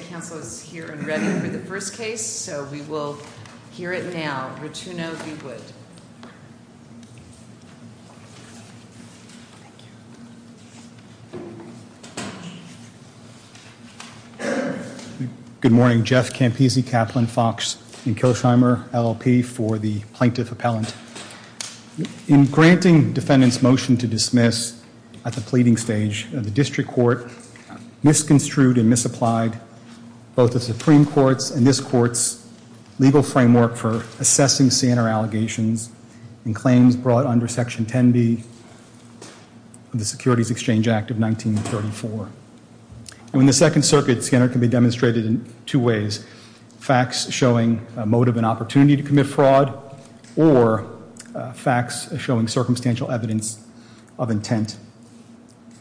Council is here and ready for the first case. So we will hear it now, Rituno V. Wood. Good morning. Jeff Campisi, Kaplan, Fox, and Kilsheimer, LLP for the Plaintiff Appellant. In granting defendants motion to dismiss at the pleading stage of the district court, misconstrued and misapplied both the Supreme Court's and this court's legal framework for assessing Sanner allegations and claims brought under Section 10b of the Securities Exchange Act of 1934. In the Second Circuit, Sanner can be demonstrated in two ways. Facts showing a motive and opportunity to commit fraud or facts showing circumstantial evidence of intent.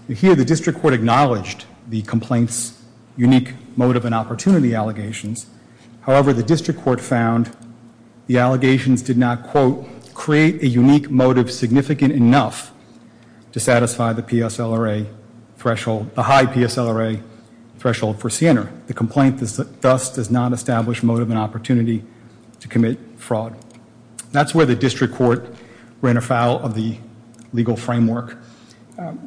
You hear the the complaint's unique motive and opportunity allegations. However, the district court found the allegations did not, quote, create a unique motive significant enough to satisfy the PSLRA threshold, the high PSLRA threshold for Sanner. The complaint thus does not establish motive and opportunity to commit fraud. That's where the district court ran afoul of the legal framework.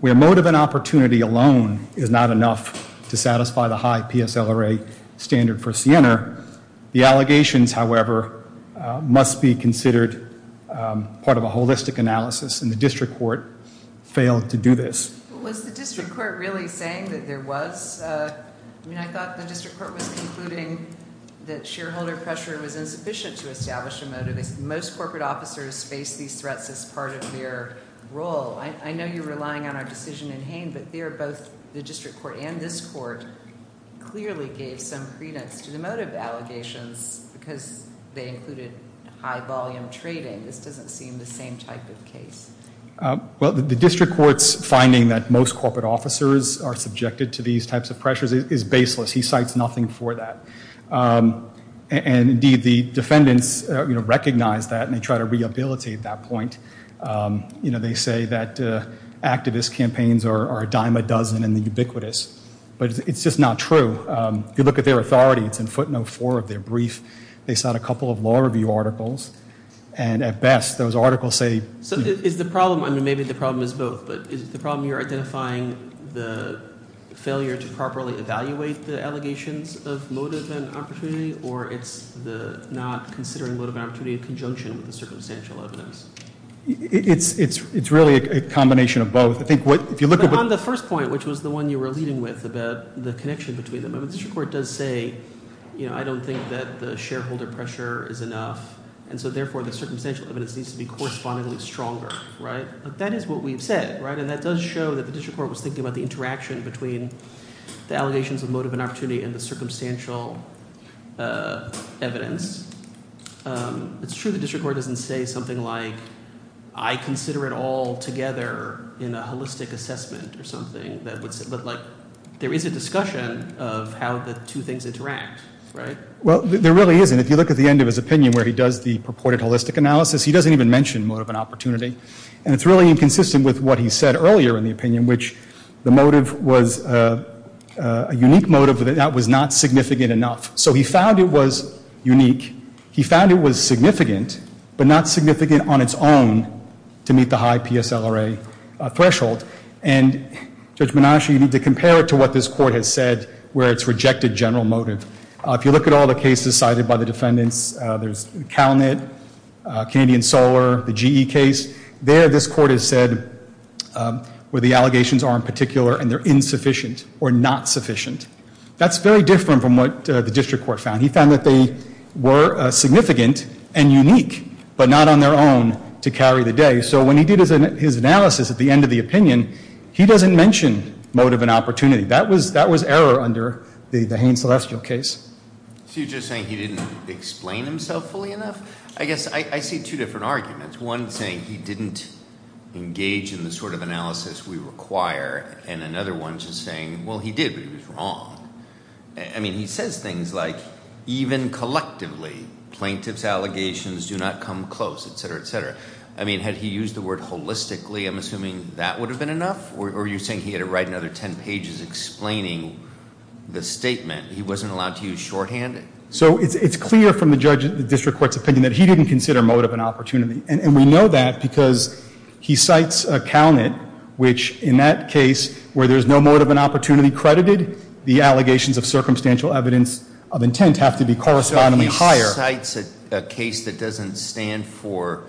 Where motive and opportunity alone is not enough to satisfy the high PSLRA standard for Sanner, the allegations, however, must be considered part of a holistic analysis and the district court failed to do this. Was the district court really saying that there was? I mean, I thought the district court was concluding that shareholder pressure was insufficient to establish a motive. Most corporate officers face these threats as part of their role. I know you're relying on our decision in Hain, but there both the district court and this court clearly gave some credence to the motive allegations because they included high volume trading. This doesn't seem the same type of case. Well, the district court's finding that most corporate officers are subjected to these types of pressures is baseless. He cites nothing for that. And indeed, the defendants, you know, recognize that and they try to rehabilitate that point. You know, they say that activist campaigns are a dime a dozen and ubiquitous, but it's just not true. If you look at their authority, it's in footnote four of their brief. They cite a couple of law review articles and at best those articles say. So is the problem, I mean, maybe the problem is both, but is the problem you're identifying the failure to properly evaluate the allegations of motive and opportunity, or it's the not considering motive and opportunity in conjunction with the circumstantial evidence? It's really a combination of both. I think what, if you look at But on the first point, which was the one you were leading with about the connection between them, the district court does say, you know, I don't think that the shareholder pressure is enough and so therefore the circumstantial evidence needs to be correspondingly stronger, right? That is what we've said, right? And that does show that the district court was thinking about between the allegations of motive and opportunity and the circumstantial evidence. It's true the district court doesn't say something like, I consider it all together in a holistic assessment or something. But like, there is a discussion of how the two things interact, right? Well, there really isn't. If you look at the end of his opinion where he does the purported holistic analysis, he doesn't even mention motive and opportunity. And it's really inconsistent with what he said earlier in the opinion, which the motive was a unique motive that was not significant enough. So he found it was unique. He found it was significant, but not significant on its own to meet the high PSLRA threshold. And Judge Menashe, you need to compare it to what this court has said where it's rejected general motive. If you look at all the cases cited by the where the allegations are in particular and they're insufficient or not sufficient. That's very different from what the district court found. He found that they were significant and unique, but not on their own to carry the day. So when he did his analysis at the end of the opinion, he doesn't mention motive and opportunity. That was error under the Haines-Celestial case. So you're just saying he didn't explain himself fully enough? I guess I see two different arguments. One saying he didn't engage in the sort of analysis we require. And another one just saying, well, he did, but he was wrong. I mean, he says things like, even collectively, plaintiffs' allegations do not come close, et cetera, et cetera. I mean, had he used the word holistically, I'm assuming that would have been enough? Or are you saying he had to write another 10 pages explaining the statement? He wasn't allowed to use shorthand? So it's clear from the district court's opinion that he didn't consider motive and opportunity. And we know that because he cites a count it, which in that case where there's no motive and opportunity credited, the allegations of circumstantial evidence of intent have to be correspondingly higher. So he cites a case that doesn't stand for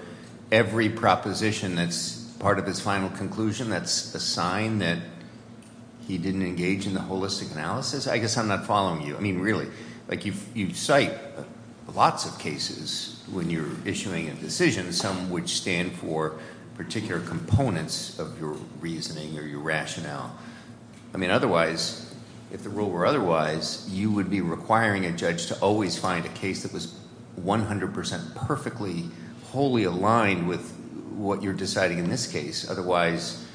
every proposition that's part of his final conclusion that's a sign that he didn't engage in the holistic analysis? I guess I'm not following you. I mean, really. You cite lots of cases when you're issuing a decision, some which stand for particular components of your reasoning or your rationale. I mean, otherwise, if the rule were otherwise, you would be requiring a judge to always find a case that was 100% perfectly, wholly aligned with what you're deciding in this case. Otherwise,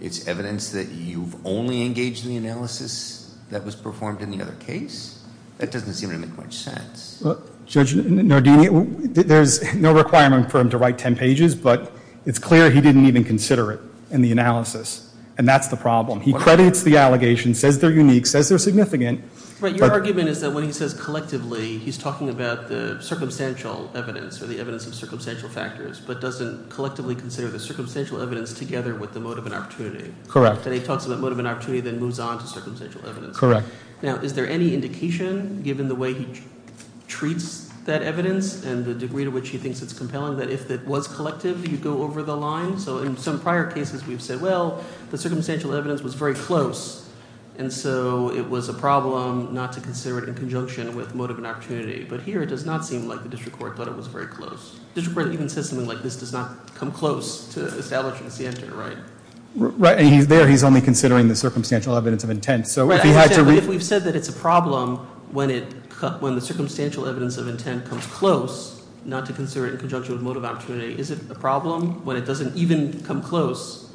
it's evidence that you've only engaged in the analysis that was performed in the other case? That doesn't seem to make much sense. Judge Nardini, there's no requirement for him to write 10 pages, but it's clear he didn't even consider it in the analysis. And that's the problem. He credits the allegations, says they're unique, says they're significant. Right. Your argument is that when he says collectively, he's talking about the circumstantial evidence or the evidence of circumstantial factors, but doesn't collectively consider the circumstantial evidence together with the motive and opportunity. Correct. And he talks about motive and opportunity, then moves on to circumstantial evidence. Correct. Now, is there any indication, given the way he treats that evidence and the degree to which he thinks it's compelling, that if it was collective, you'd go over the line? So in some prior cases, we've said, well, the circumstantial evidence was very close, and so it was a problem not to consider it in conjunction with motive and opportunity. But here, it does not seem like the district court thought it was very close. The district court even says something like, this does not come close to only considering the circumstantial evidence of intent. But if we've said that it's a problem when the circumstantial evidence of intent comes close, not to consider it in conjunction with motive opportunity, is it a problem when it doesn't even come close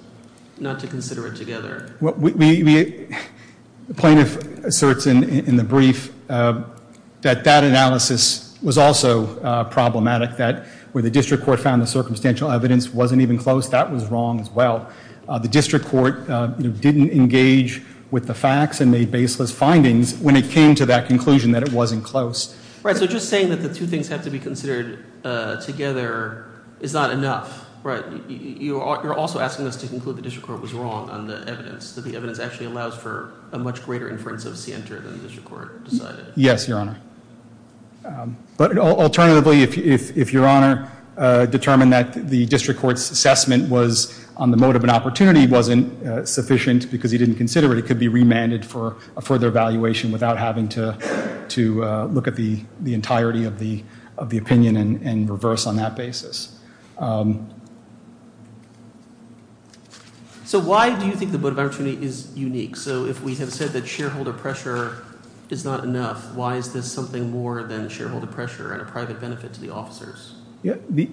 not to consider it together? The plaintiff asserts in the brief that that analysis was also problematic, that where the district court found the circumstantial evidence wasn't even close, that was wrong as well. The district court didn't engage with the facts and made baseless findings when it came to that conclusion that it wasn't close. Right, so just saying that the two things have to be considered together is not enough, right? You're also asking us to conclude the district court was wrong on the evidence, that the evidence actually allows for a much greater inference of scienter than the district court decided. Yes, Your Honor. But alternatively, if Your Honor determined that the district court's assessment was on the motive and opportunity wasn't sufficient because he didn't consider it, it could be remanded for a further evaluation without having to to look at the entirety of the opinion and reverse on that basis. So why do you think the motive opportunity is unique? So if we have said that shareholder pressure is not enough, why is this something more than shareholder pressure and a private benefit to the officers? The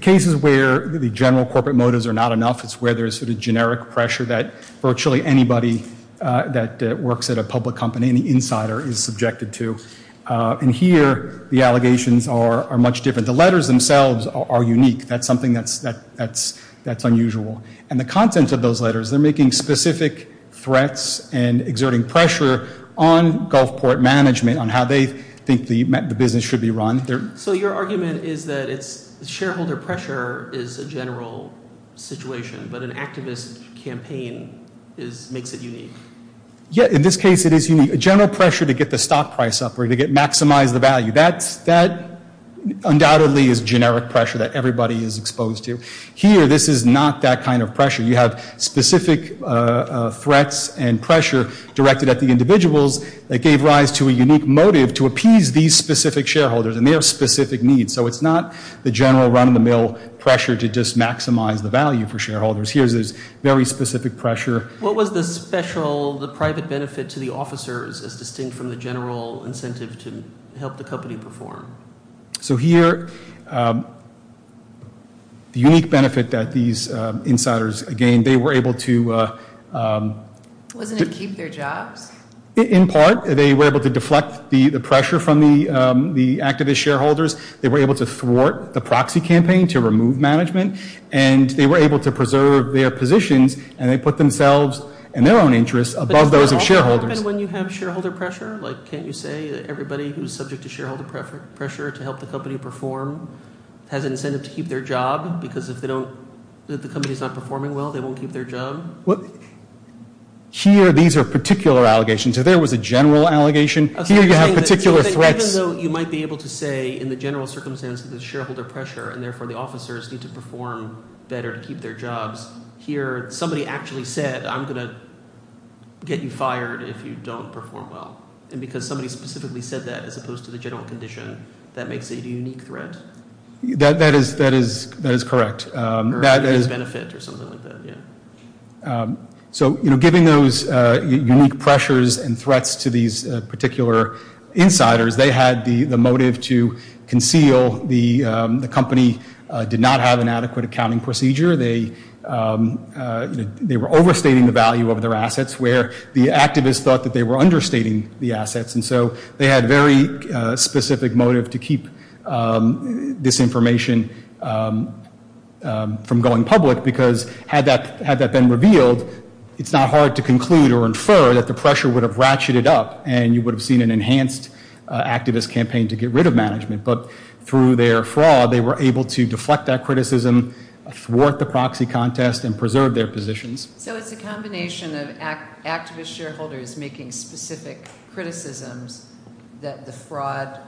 cases where the general corporate motives are not enough is where there's sort of generic pressure that virtually anybody that works at a public company, any insider is subjected to. And here the allegations are much different. The letters themselves are unique. That's something that's unusual. And the content of those letters, they're making specific threats and exerting pressure on Gulfport management on how they think the business should be run. So your argument is that it's shareholder pressure is a general situation, but an activist campaign makes it unique. Yeah, in this case, it is unique. General pressure to get the stock price up or to maximize the value, that undoubtedly is generic pressure that everybody is exposed to. Here, this is not that kind of pressure. You have specific threats and pressure directed at the individuals that gave rise to a unique motive to appease these specific shareholders and their specific needs. So it's not the general run-of-the-mill pressure to just maximize the value for shareholders. Here's this very specific pressure. What was the special, the private benefit to the officers as distinct from the general incentive to help the company perform? So here, the unique benefit that these insiders gained, they were able to... Wasn't it keep their jobs? In part, they were able to deflect the the activist shareholders. They were able to thwart the proxy campaign to remove management, and they were able to preserve their positions, and they put themselves and their own interests above those of shareholders. When you have shareholder pressure, like can't you say everybody who's subject to shareholder pressure to help the company perform has incentive to keep their job? Because if they don't, if the company's not performing well, they won't keep their job? Here, these are particular allegations. So there was a general allegation. Here, you have particular threats. Even though you might be able to say in the general circumstance of the shareholder pressure, and therefore the officers need to perform better to keep their jobs, here somebody actually said, I'm going to get you fired if you don't perform well. And because somebody specifically said that as opposed to the general condition, that makes it a unique threat? That is correct. Or a benefit or something like that, yeah. So, you know, giving those unique pressures and threats to these particular insiders, they had the motive to conceal the company did not have an adequate accounting procedure. They were overstating the value of their assets, where the activists thought that they were understating the assets. And so they had very specific motive to keep this information from going public because had that been revealed, it's not hard to conclude or infer that the pressure would have ratcheted up and you would have seen an enhanced activist campaign to get rid of management. But through their fraud, they were able to deflect that criticism, thwart the proxy contest, and preserve their positions. So it's a combination of activist shareholders making specific criticisms that the fraud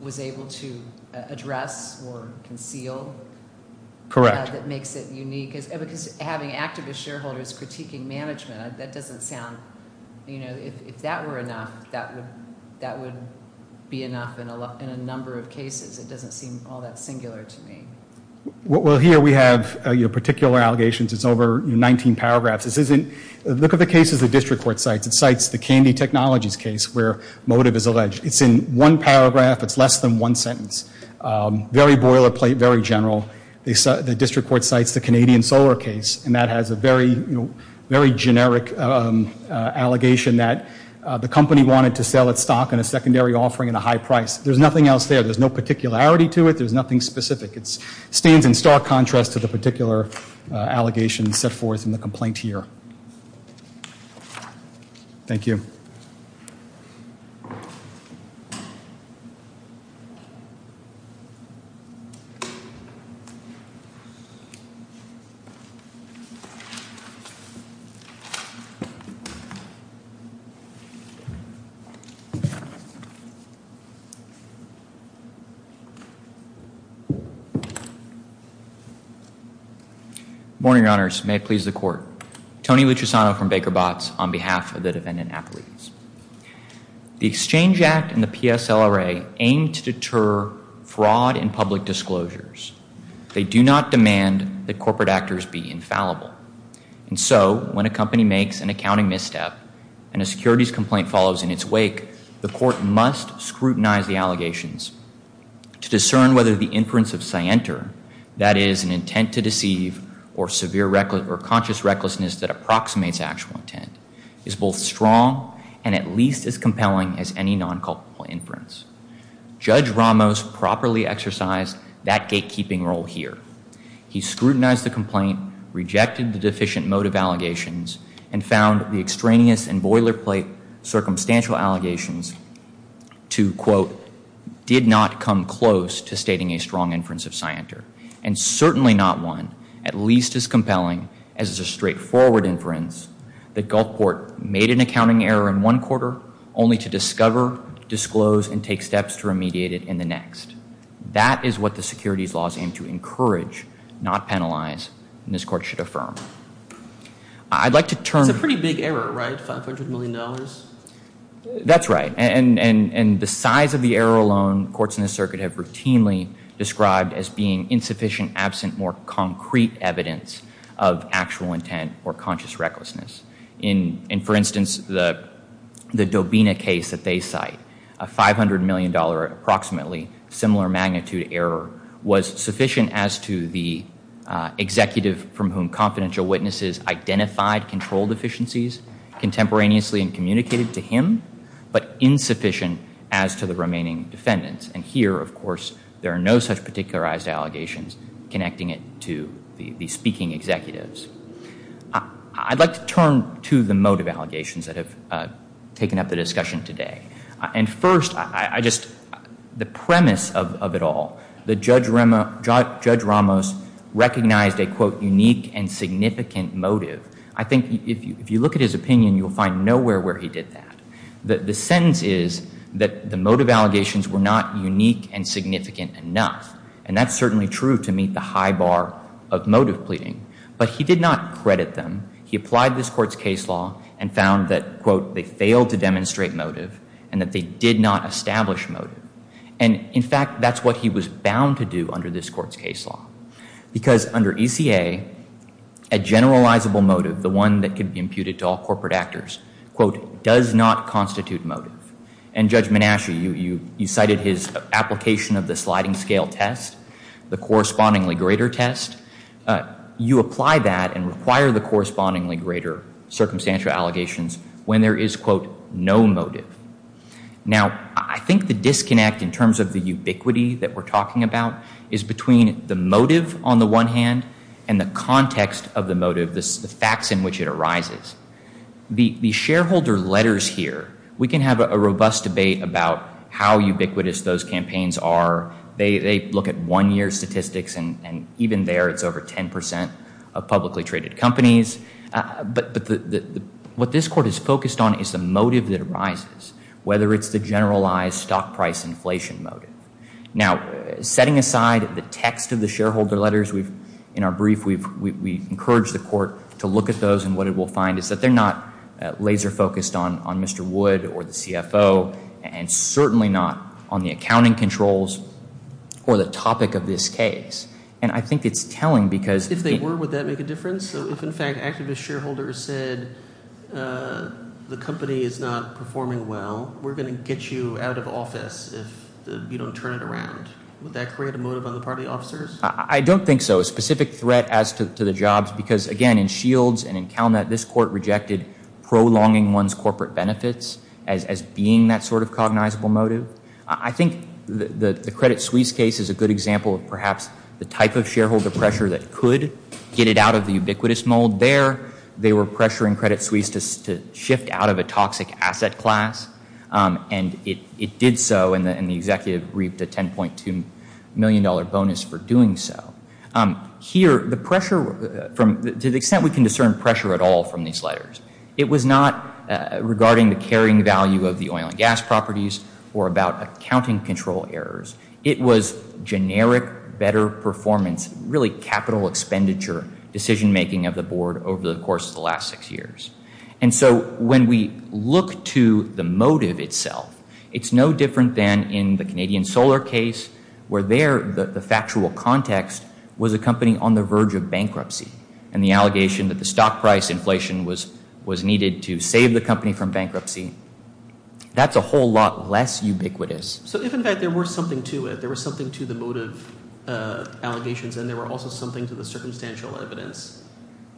was able to address or conceal. Correct. That makes it unique. Because having activist shareholders critiquing management, that doesn't sound, you know, if that were enough, that would be enough in a number of cases. It doesn't seem all that singular to me. Well, here we have your particular allegations. It's over 19 paragraphs. This isn't, look at the cases the district court cites. It cites the Candy Technologies case where motive is alleged. It's in one paragraph. It's less than one sentence. Very boilerplate, very general. The district court cites the Canadian Solar case and that has a very, you know, very generic allegation that the company wanted to sell its stock in a secondary offering at a high price. There's nothing else there. There's no particularity to it. There's nothing specific. It stands in stark contrast to the particular allegations set forth in the case. Morning, your honors. May it please the court. Tony Luchisano from Baker Botts on behalf of the district court. I would like to begin by saying that I do not support fraud and public disclosures. They do not demand that corporate actors be infallible. And so, when a company makes an accounting misstep and a securities complaint follows in its wake, the court must scrutinize the allegations. To discern whether the inference of scienter, that is an intent to deceive or severe reckless or conscious recklessness that approximates actual intent, is both strong and at inference. Judge Ramos properly exercised that gatekeeping role here. He scrutinized the complaint, rejected the deficient motive allegations, and found the extraneous and boilerplate circumstantial allegations to, quote, did not come close to stating a strong inference of scienter, and certainly not one at least as compelling as a straightforward inference that Gulfport made an accounting error in one quarter only to discover, disclose, and take steps to remediate it in the next. That is what the securities laws aim to encourage, not penalize, and this court should affirm. I'd like to turn... It's a pretty big error, right? 500 million dollars? That's right. And the size of the error alone, courts in the circuit have routinely described as being insufficient, absent more concrete evidence of actual intent or conscious recklessness. In, for instance, the the Dobina case that they cite, a 500 million dollar approximately similar magnitude error was sufficient as to the executive from whom confidential witnesses identified control deficiencies contemporaneously and communicated to him, but insufficient as to the remaining defendants. And here, of course, there are no such particularized allegations connecting it to the speaking executives. I'd like to turn to the motive allegations that have taken up the discussion today. And first, I just... The premise of it all, that Judge Ramos recognized a, quote, unique and significant motive. I think if you look at his opinion, you'll find nowhere where he did that. The sentence is that the motive allegations were not unique and significant enough, and that's certainly true to meet the high bar of motive pleading, but he did not credit them. He applied this court's case law and found that, quote, they failed to demonstrate motive and that they did not establish motive. And in fact, that's what he was bound to do under this court's case law. Because under ECA, a generalizable motive, the one that could be imputed to all courts, quote, does not constitute motive. And Judge Menasche, you cited his application of the sliding scale test, the correspondingly greater test. You apply that and require the correspondingly greater circumstantial allegations when there is, quote, no motive. Now, I think the disconnect in terms of the ubiquity that we're talking about is between the motive on the one hand and the shareholder letters here. We can have a robust debate about how ubiquitous those campaigns are. They look at one-year statistics, and even there, it's over 10 percent of publicly traded companies. But what this court is focused on is the motive that arises, whether it's the generalized stock price inflation motive. Now, setting aside the text of the shareholder letters, we've, in our brief, we've encouraged the court to look at those, and what it will find is that they're not laser focused on Mr. Wood or the CFO, and certainly not on the accounting controls or the topic of this case. And I think it's telling, because if they were, would that make a difference? So if, in fact, activist shareholders said the company is not performing well, we're going to get you out of office if you don't turn it around. Would that create a motive on the part of the officers? I don't think so. A specific threat as to the jobs, because again, in Shields and in CalNet, this court rejected prolonging one's corporate benefits as being that sort of cognizable motive. I think the Credit Suisse case is a good example of perhaps the type of shareholder pressure that could get it out of the ubiquitous mold there. They were pressuring Credit Suisse to shift out of a toxic asset class, and it did so, and the executive reaped a $10.2 million bonus for doing so. Here, the pressure, to the extent we can discern pressure at all from these letters, it was not regarding the carrying value of the oil and gas properties or about accounting control errors. It was generic better performance, really capital expenditure decision making of the board over the course of the last six years. And so when we look to the motive itself, it's no different than in the Canadian Solar case, where there, the factual context was a company on the verge of bankruptcy, and the allegation that the stock price inflation was needed to save the company from bankruptcy, that's a whole lot less ubiquitous. So if in fact there were something to it, there was something to the motive allegations, and there were also something to the circumstantial evidence,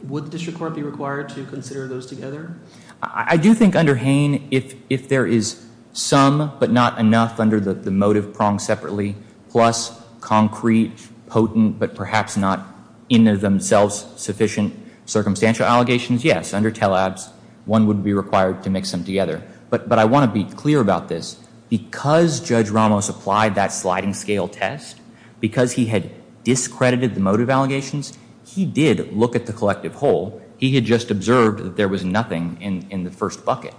would the district court be required to consider those together? I do think under Hain, if there is some but not enough under the motive prong separately, plus concrete, potent, but perhaps not in themselves sufficient circumstantial allegations, yes, under Tellabs, one would be required to mix them together. But I want to be clear about this. Because Judge Ramos applied that sliding scale test, because he had discredited the motive allegations, he did look at the collective whole. He had just observed that there was nothing in the first bucket.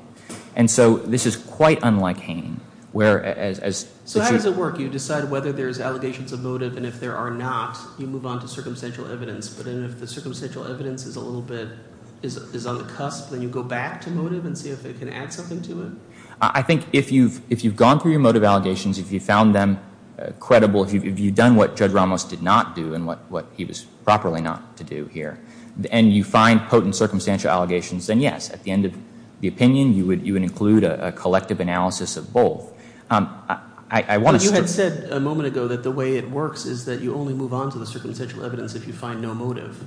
And so this is quite unlike Hain, where as... So how does it work? You decide whether there's allegations of motive, and if there are not, you move on to circumstantial evidence. But if the circumstantial evidence is a little bit, is on the cusp, then you go back to motive and see if it can add something to it? I think if you've gone through your motive allegations, if you found them credible, if you've done what Judge Ramos did not do, and what he was properly not to do here, and you find potent circumstantial allegations, then yes, at the end of the opinion, you would include a collective analysis of both. I want to... But you had said a moment ago that the way it works is that you only move on to the circumstantial evidence if you find no motive.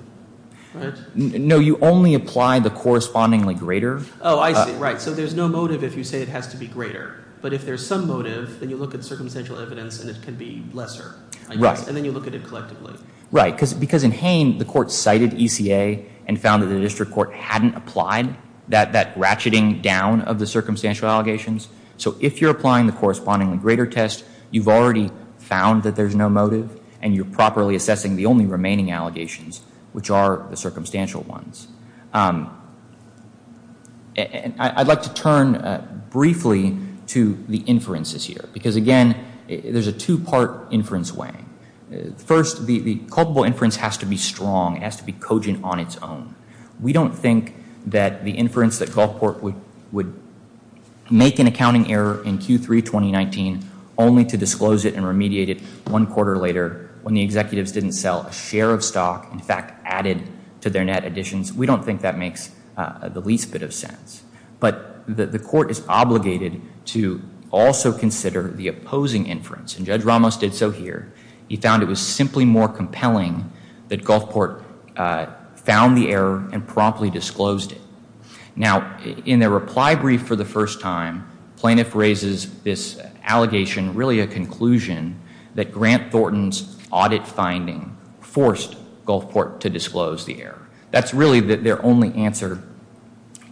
Right? No, you only apply the correspondingly greater... Oh, I see. Right. So there's no motive if you say it has to be greater. But if there's some motive, then you look at circumstantial evidence and it can be lesser. Right. And then you look at it collectively. Right. Because in Hain, the court cited ECA and found that the district court hadn't applied that ratcheting down of the circumstantial allegations. So if you're applying the correspondingly greater test, you've already found that there's no motive, and you're properly assessing the only remaining allegations, which are the circumstantial ones. I'd like to turn briefly to the inferences here. Because again, there's a two-part inference way. First, the culpable inference has to be strong. It has to be cogent on its own. We don't think that the inference that Gulfport would make an accounting error in Q3 2019 only to disclose it and remediate it one quarter later when the executives didn't sell a share of stock, in fact, added to their net additions, we don't think that makes the least bit of sense. But the court is obligated to also consider the opposing inference. And Judge Ramos did so here. He found it was simply more compelling that Gulfport found the error and promptly disclosed it. Now, in their reply brief for the first time, plaintiff raises this allegation, really a conclusion, that Grant Thornton's audit finding forced Gulfport to disclose the error. That's really their only answer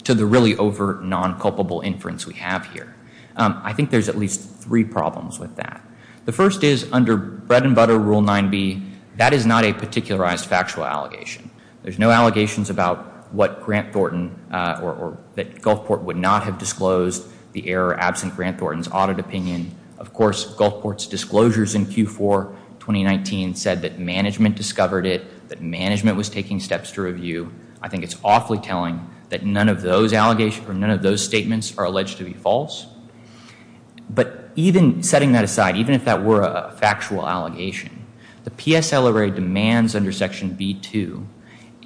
to the really overt non-culpable inference we have here. I think there's at least three problems with that. The first is under bread and butter rule 9b, that is not a particularized factual allegation. There's no allegations about what Grant Thornton or that Gulfport would not have disclosed the error absent Grant Thornton's audit opinion. Of course, Gulfport's disclosures in Q4 2019 said that management discovered it, that management was taking steps to review. I think it's awfully telling that none of those allegations or even setting that aside, even if that were a factual allegation, the PSL array demands under section b2,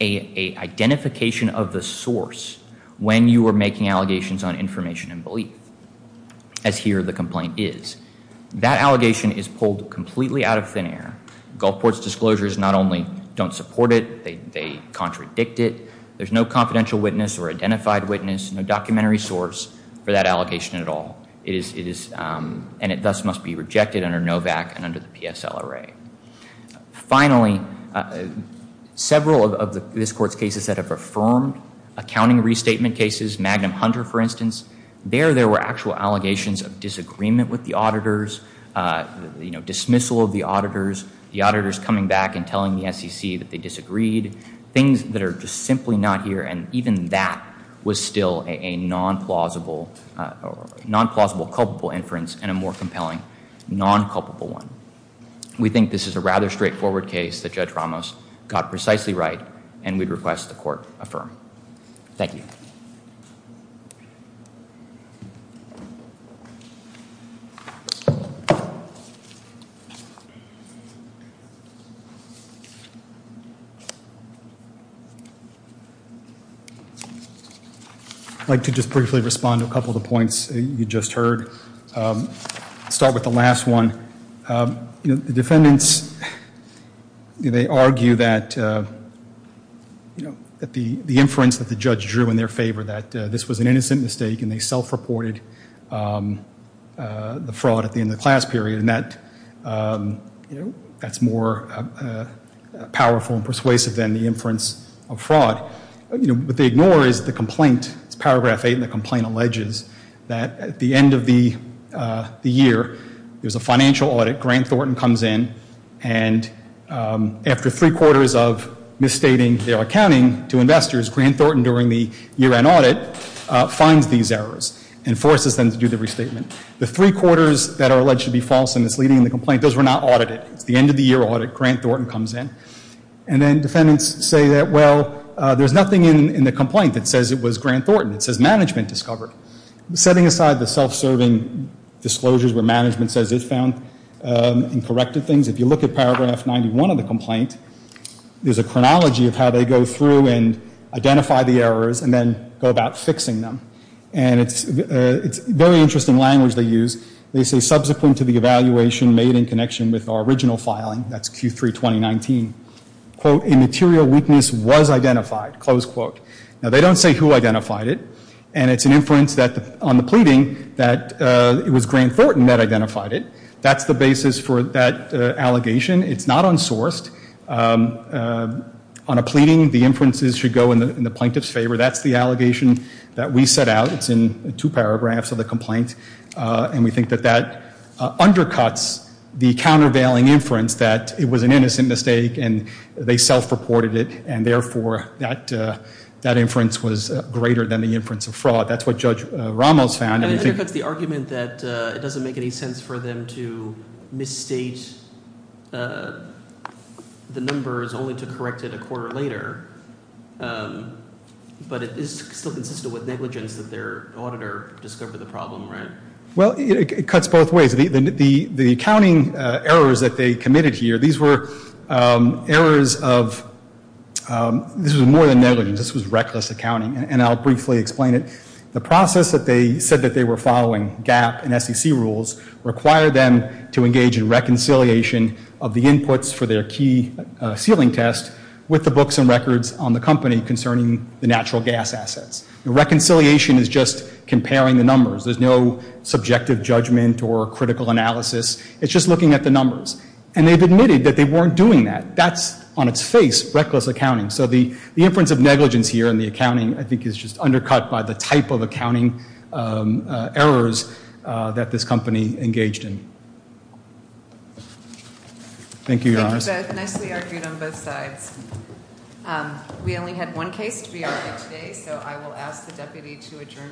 a identification of the source when you are making allegations on information and belief, as here the complaint is. That allegation is pulled completely out of thin air. Gulfport's disclosures not only don't support it, they contradict it. There's no confidential witness or identified witness, no documentary source for that allegation at all. And it thus must be rejected under NOVAC and under the PSL array. Finally, several of this court's cases that have affirmed accounting restatement cases, Magnum Hunter for instance, there there were actual allegations of disagreement with the auditors, you know dismissal of the auditors, the auditors coming back and telling the SEC that they disagreed, things that are just simply not here and even that was still a non-plausible, non-plausible culpable inference and a more compelling non-culpable one. We think this is a rather straightforward case that Judge Ramos got precisely right and we'd request the court affirm. Thank you. I'd like to just briefly respond to a couple of the points you just heard. Start with the last one. You know the defendants, they argue that you know that the the inference that the judge drew in their favor that this was an innocent mistake and they self-reported the fraud at the end of the class period and that you know that's more powerful and persuasive than the inference of fraud. You know what they ignore is the complaint. It's paragraph eight and the complaint alleges that at the end of the year there's a financial audit. Grant Thornton comes in and after three quarters of misstating their accounting to investors, Grant Thornton during the year-end audit finds these errors and forces them to do the restatement. The three quarters that are alleged to be false and misleading in the complaint, those were not audited. It's the end-of-the-year audit. Grant Thornton comes in and then defendants say that well there's nothing in the complaint that says it was Grant Thornton. It says management discovered. Setting aside the self-serving disclosures where management says it found and corrected things, if you look at paragraph 91 of the complaint, there's a chronology of how they go through and identify the errors and then go about fixing them. And it's very interesting language they use. They say subsequent to the countervailing, that's Q3 2019, quote immaterial weakness was identified, close quote. Now they don't say who identified it and it's an inference that on the pleading that it was Grant Thornton that identified it. That's the basis for that allegation. It's not unsourced. On a pleading the inferences should go in the plaintiff's favor. That's the allegation that we set out. It's in two paragraphs of the complaint and we think that that undercuts the countervailing inference that it was an innocent mistake and they self-reported it and therefore that that inference was greater than the inference of fraud. That's what Judge Ramos found. It undercuts the argument that it doesn't make any sense for them to misstate the numbers only to correct it a quarter later. But it is still consistent with negligence that their auditor discovered the problem, right? Well it cuts both ways. The accounting errors that they committed here, these were errors of, this was more than negligence, this was reckless accounting and I'll briefly explain it. The process that they said that they were following, GAP and SEC rules, require them to engage in reconciliation of the inputs for their key ceiling test with the books and records on the company concerning the natural gas assets. Reconciliation is just comparing the numbers. There's no subjective judgment or critical analysis. It's just looking at the numbers and they've admitted that they weren't doing that. That's on its face, reckless accounting. So the inference of negligence here in the accounting I think is just undercut by the type of accounting errors that this company engaged in. Thank you. Thank you both. Nicely argued on both sides. We only had one case to be argued today so I will ask the deputy to adjourn court.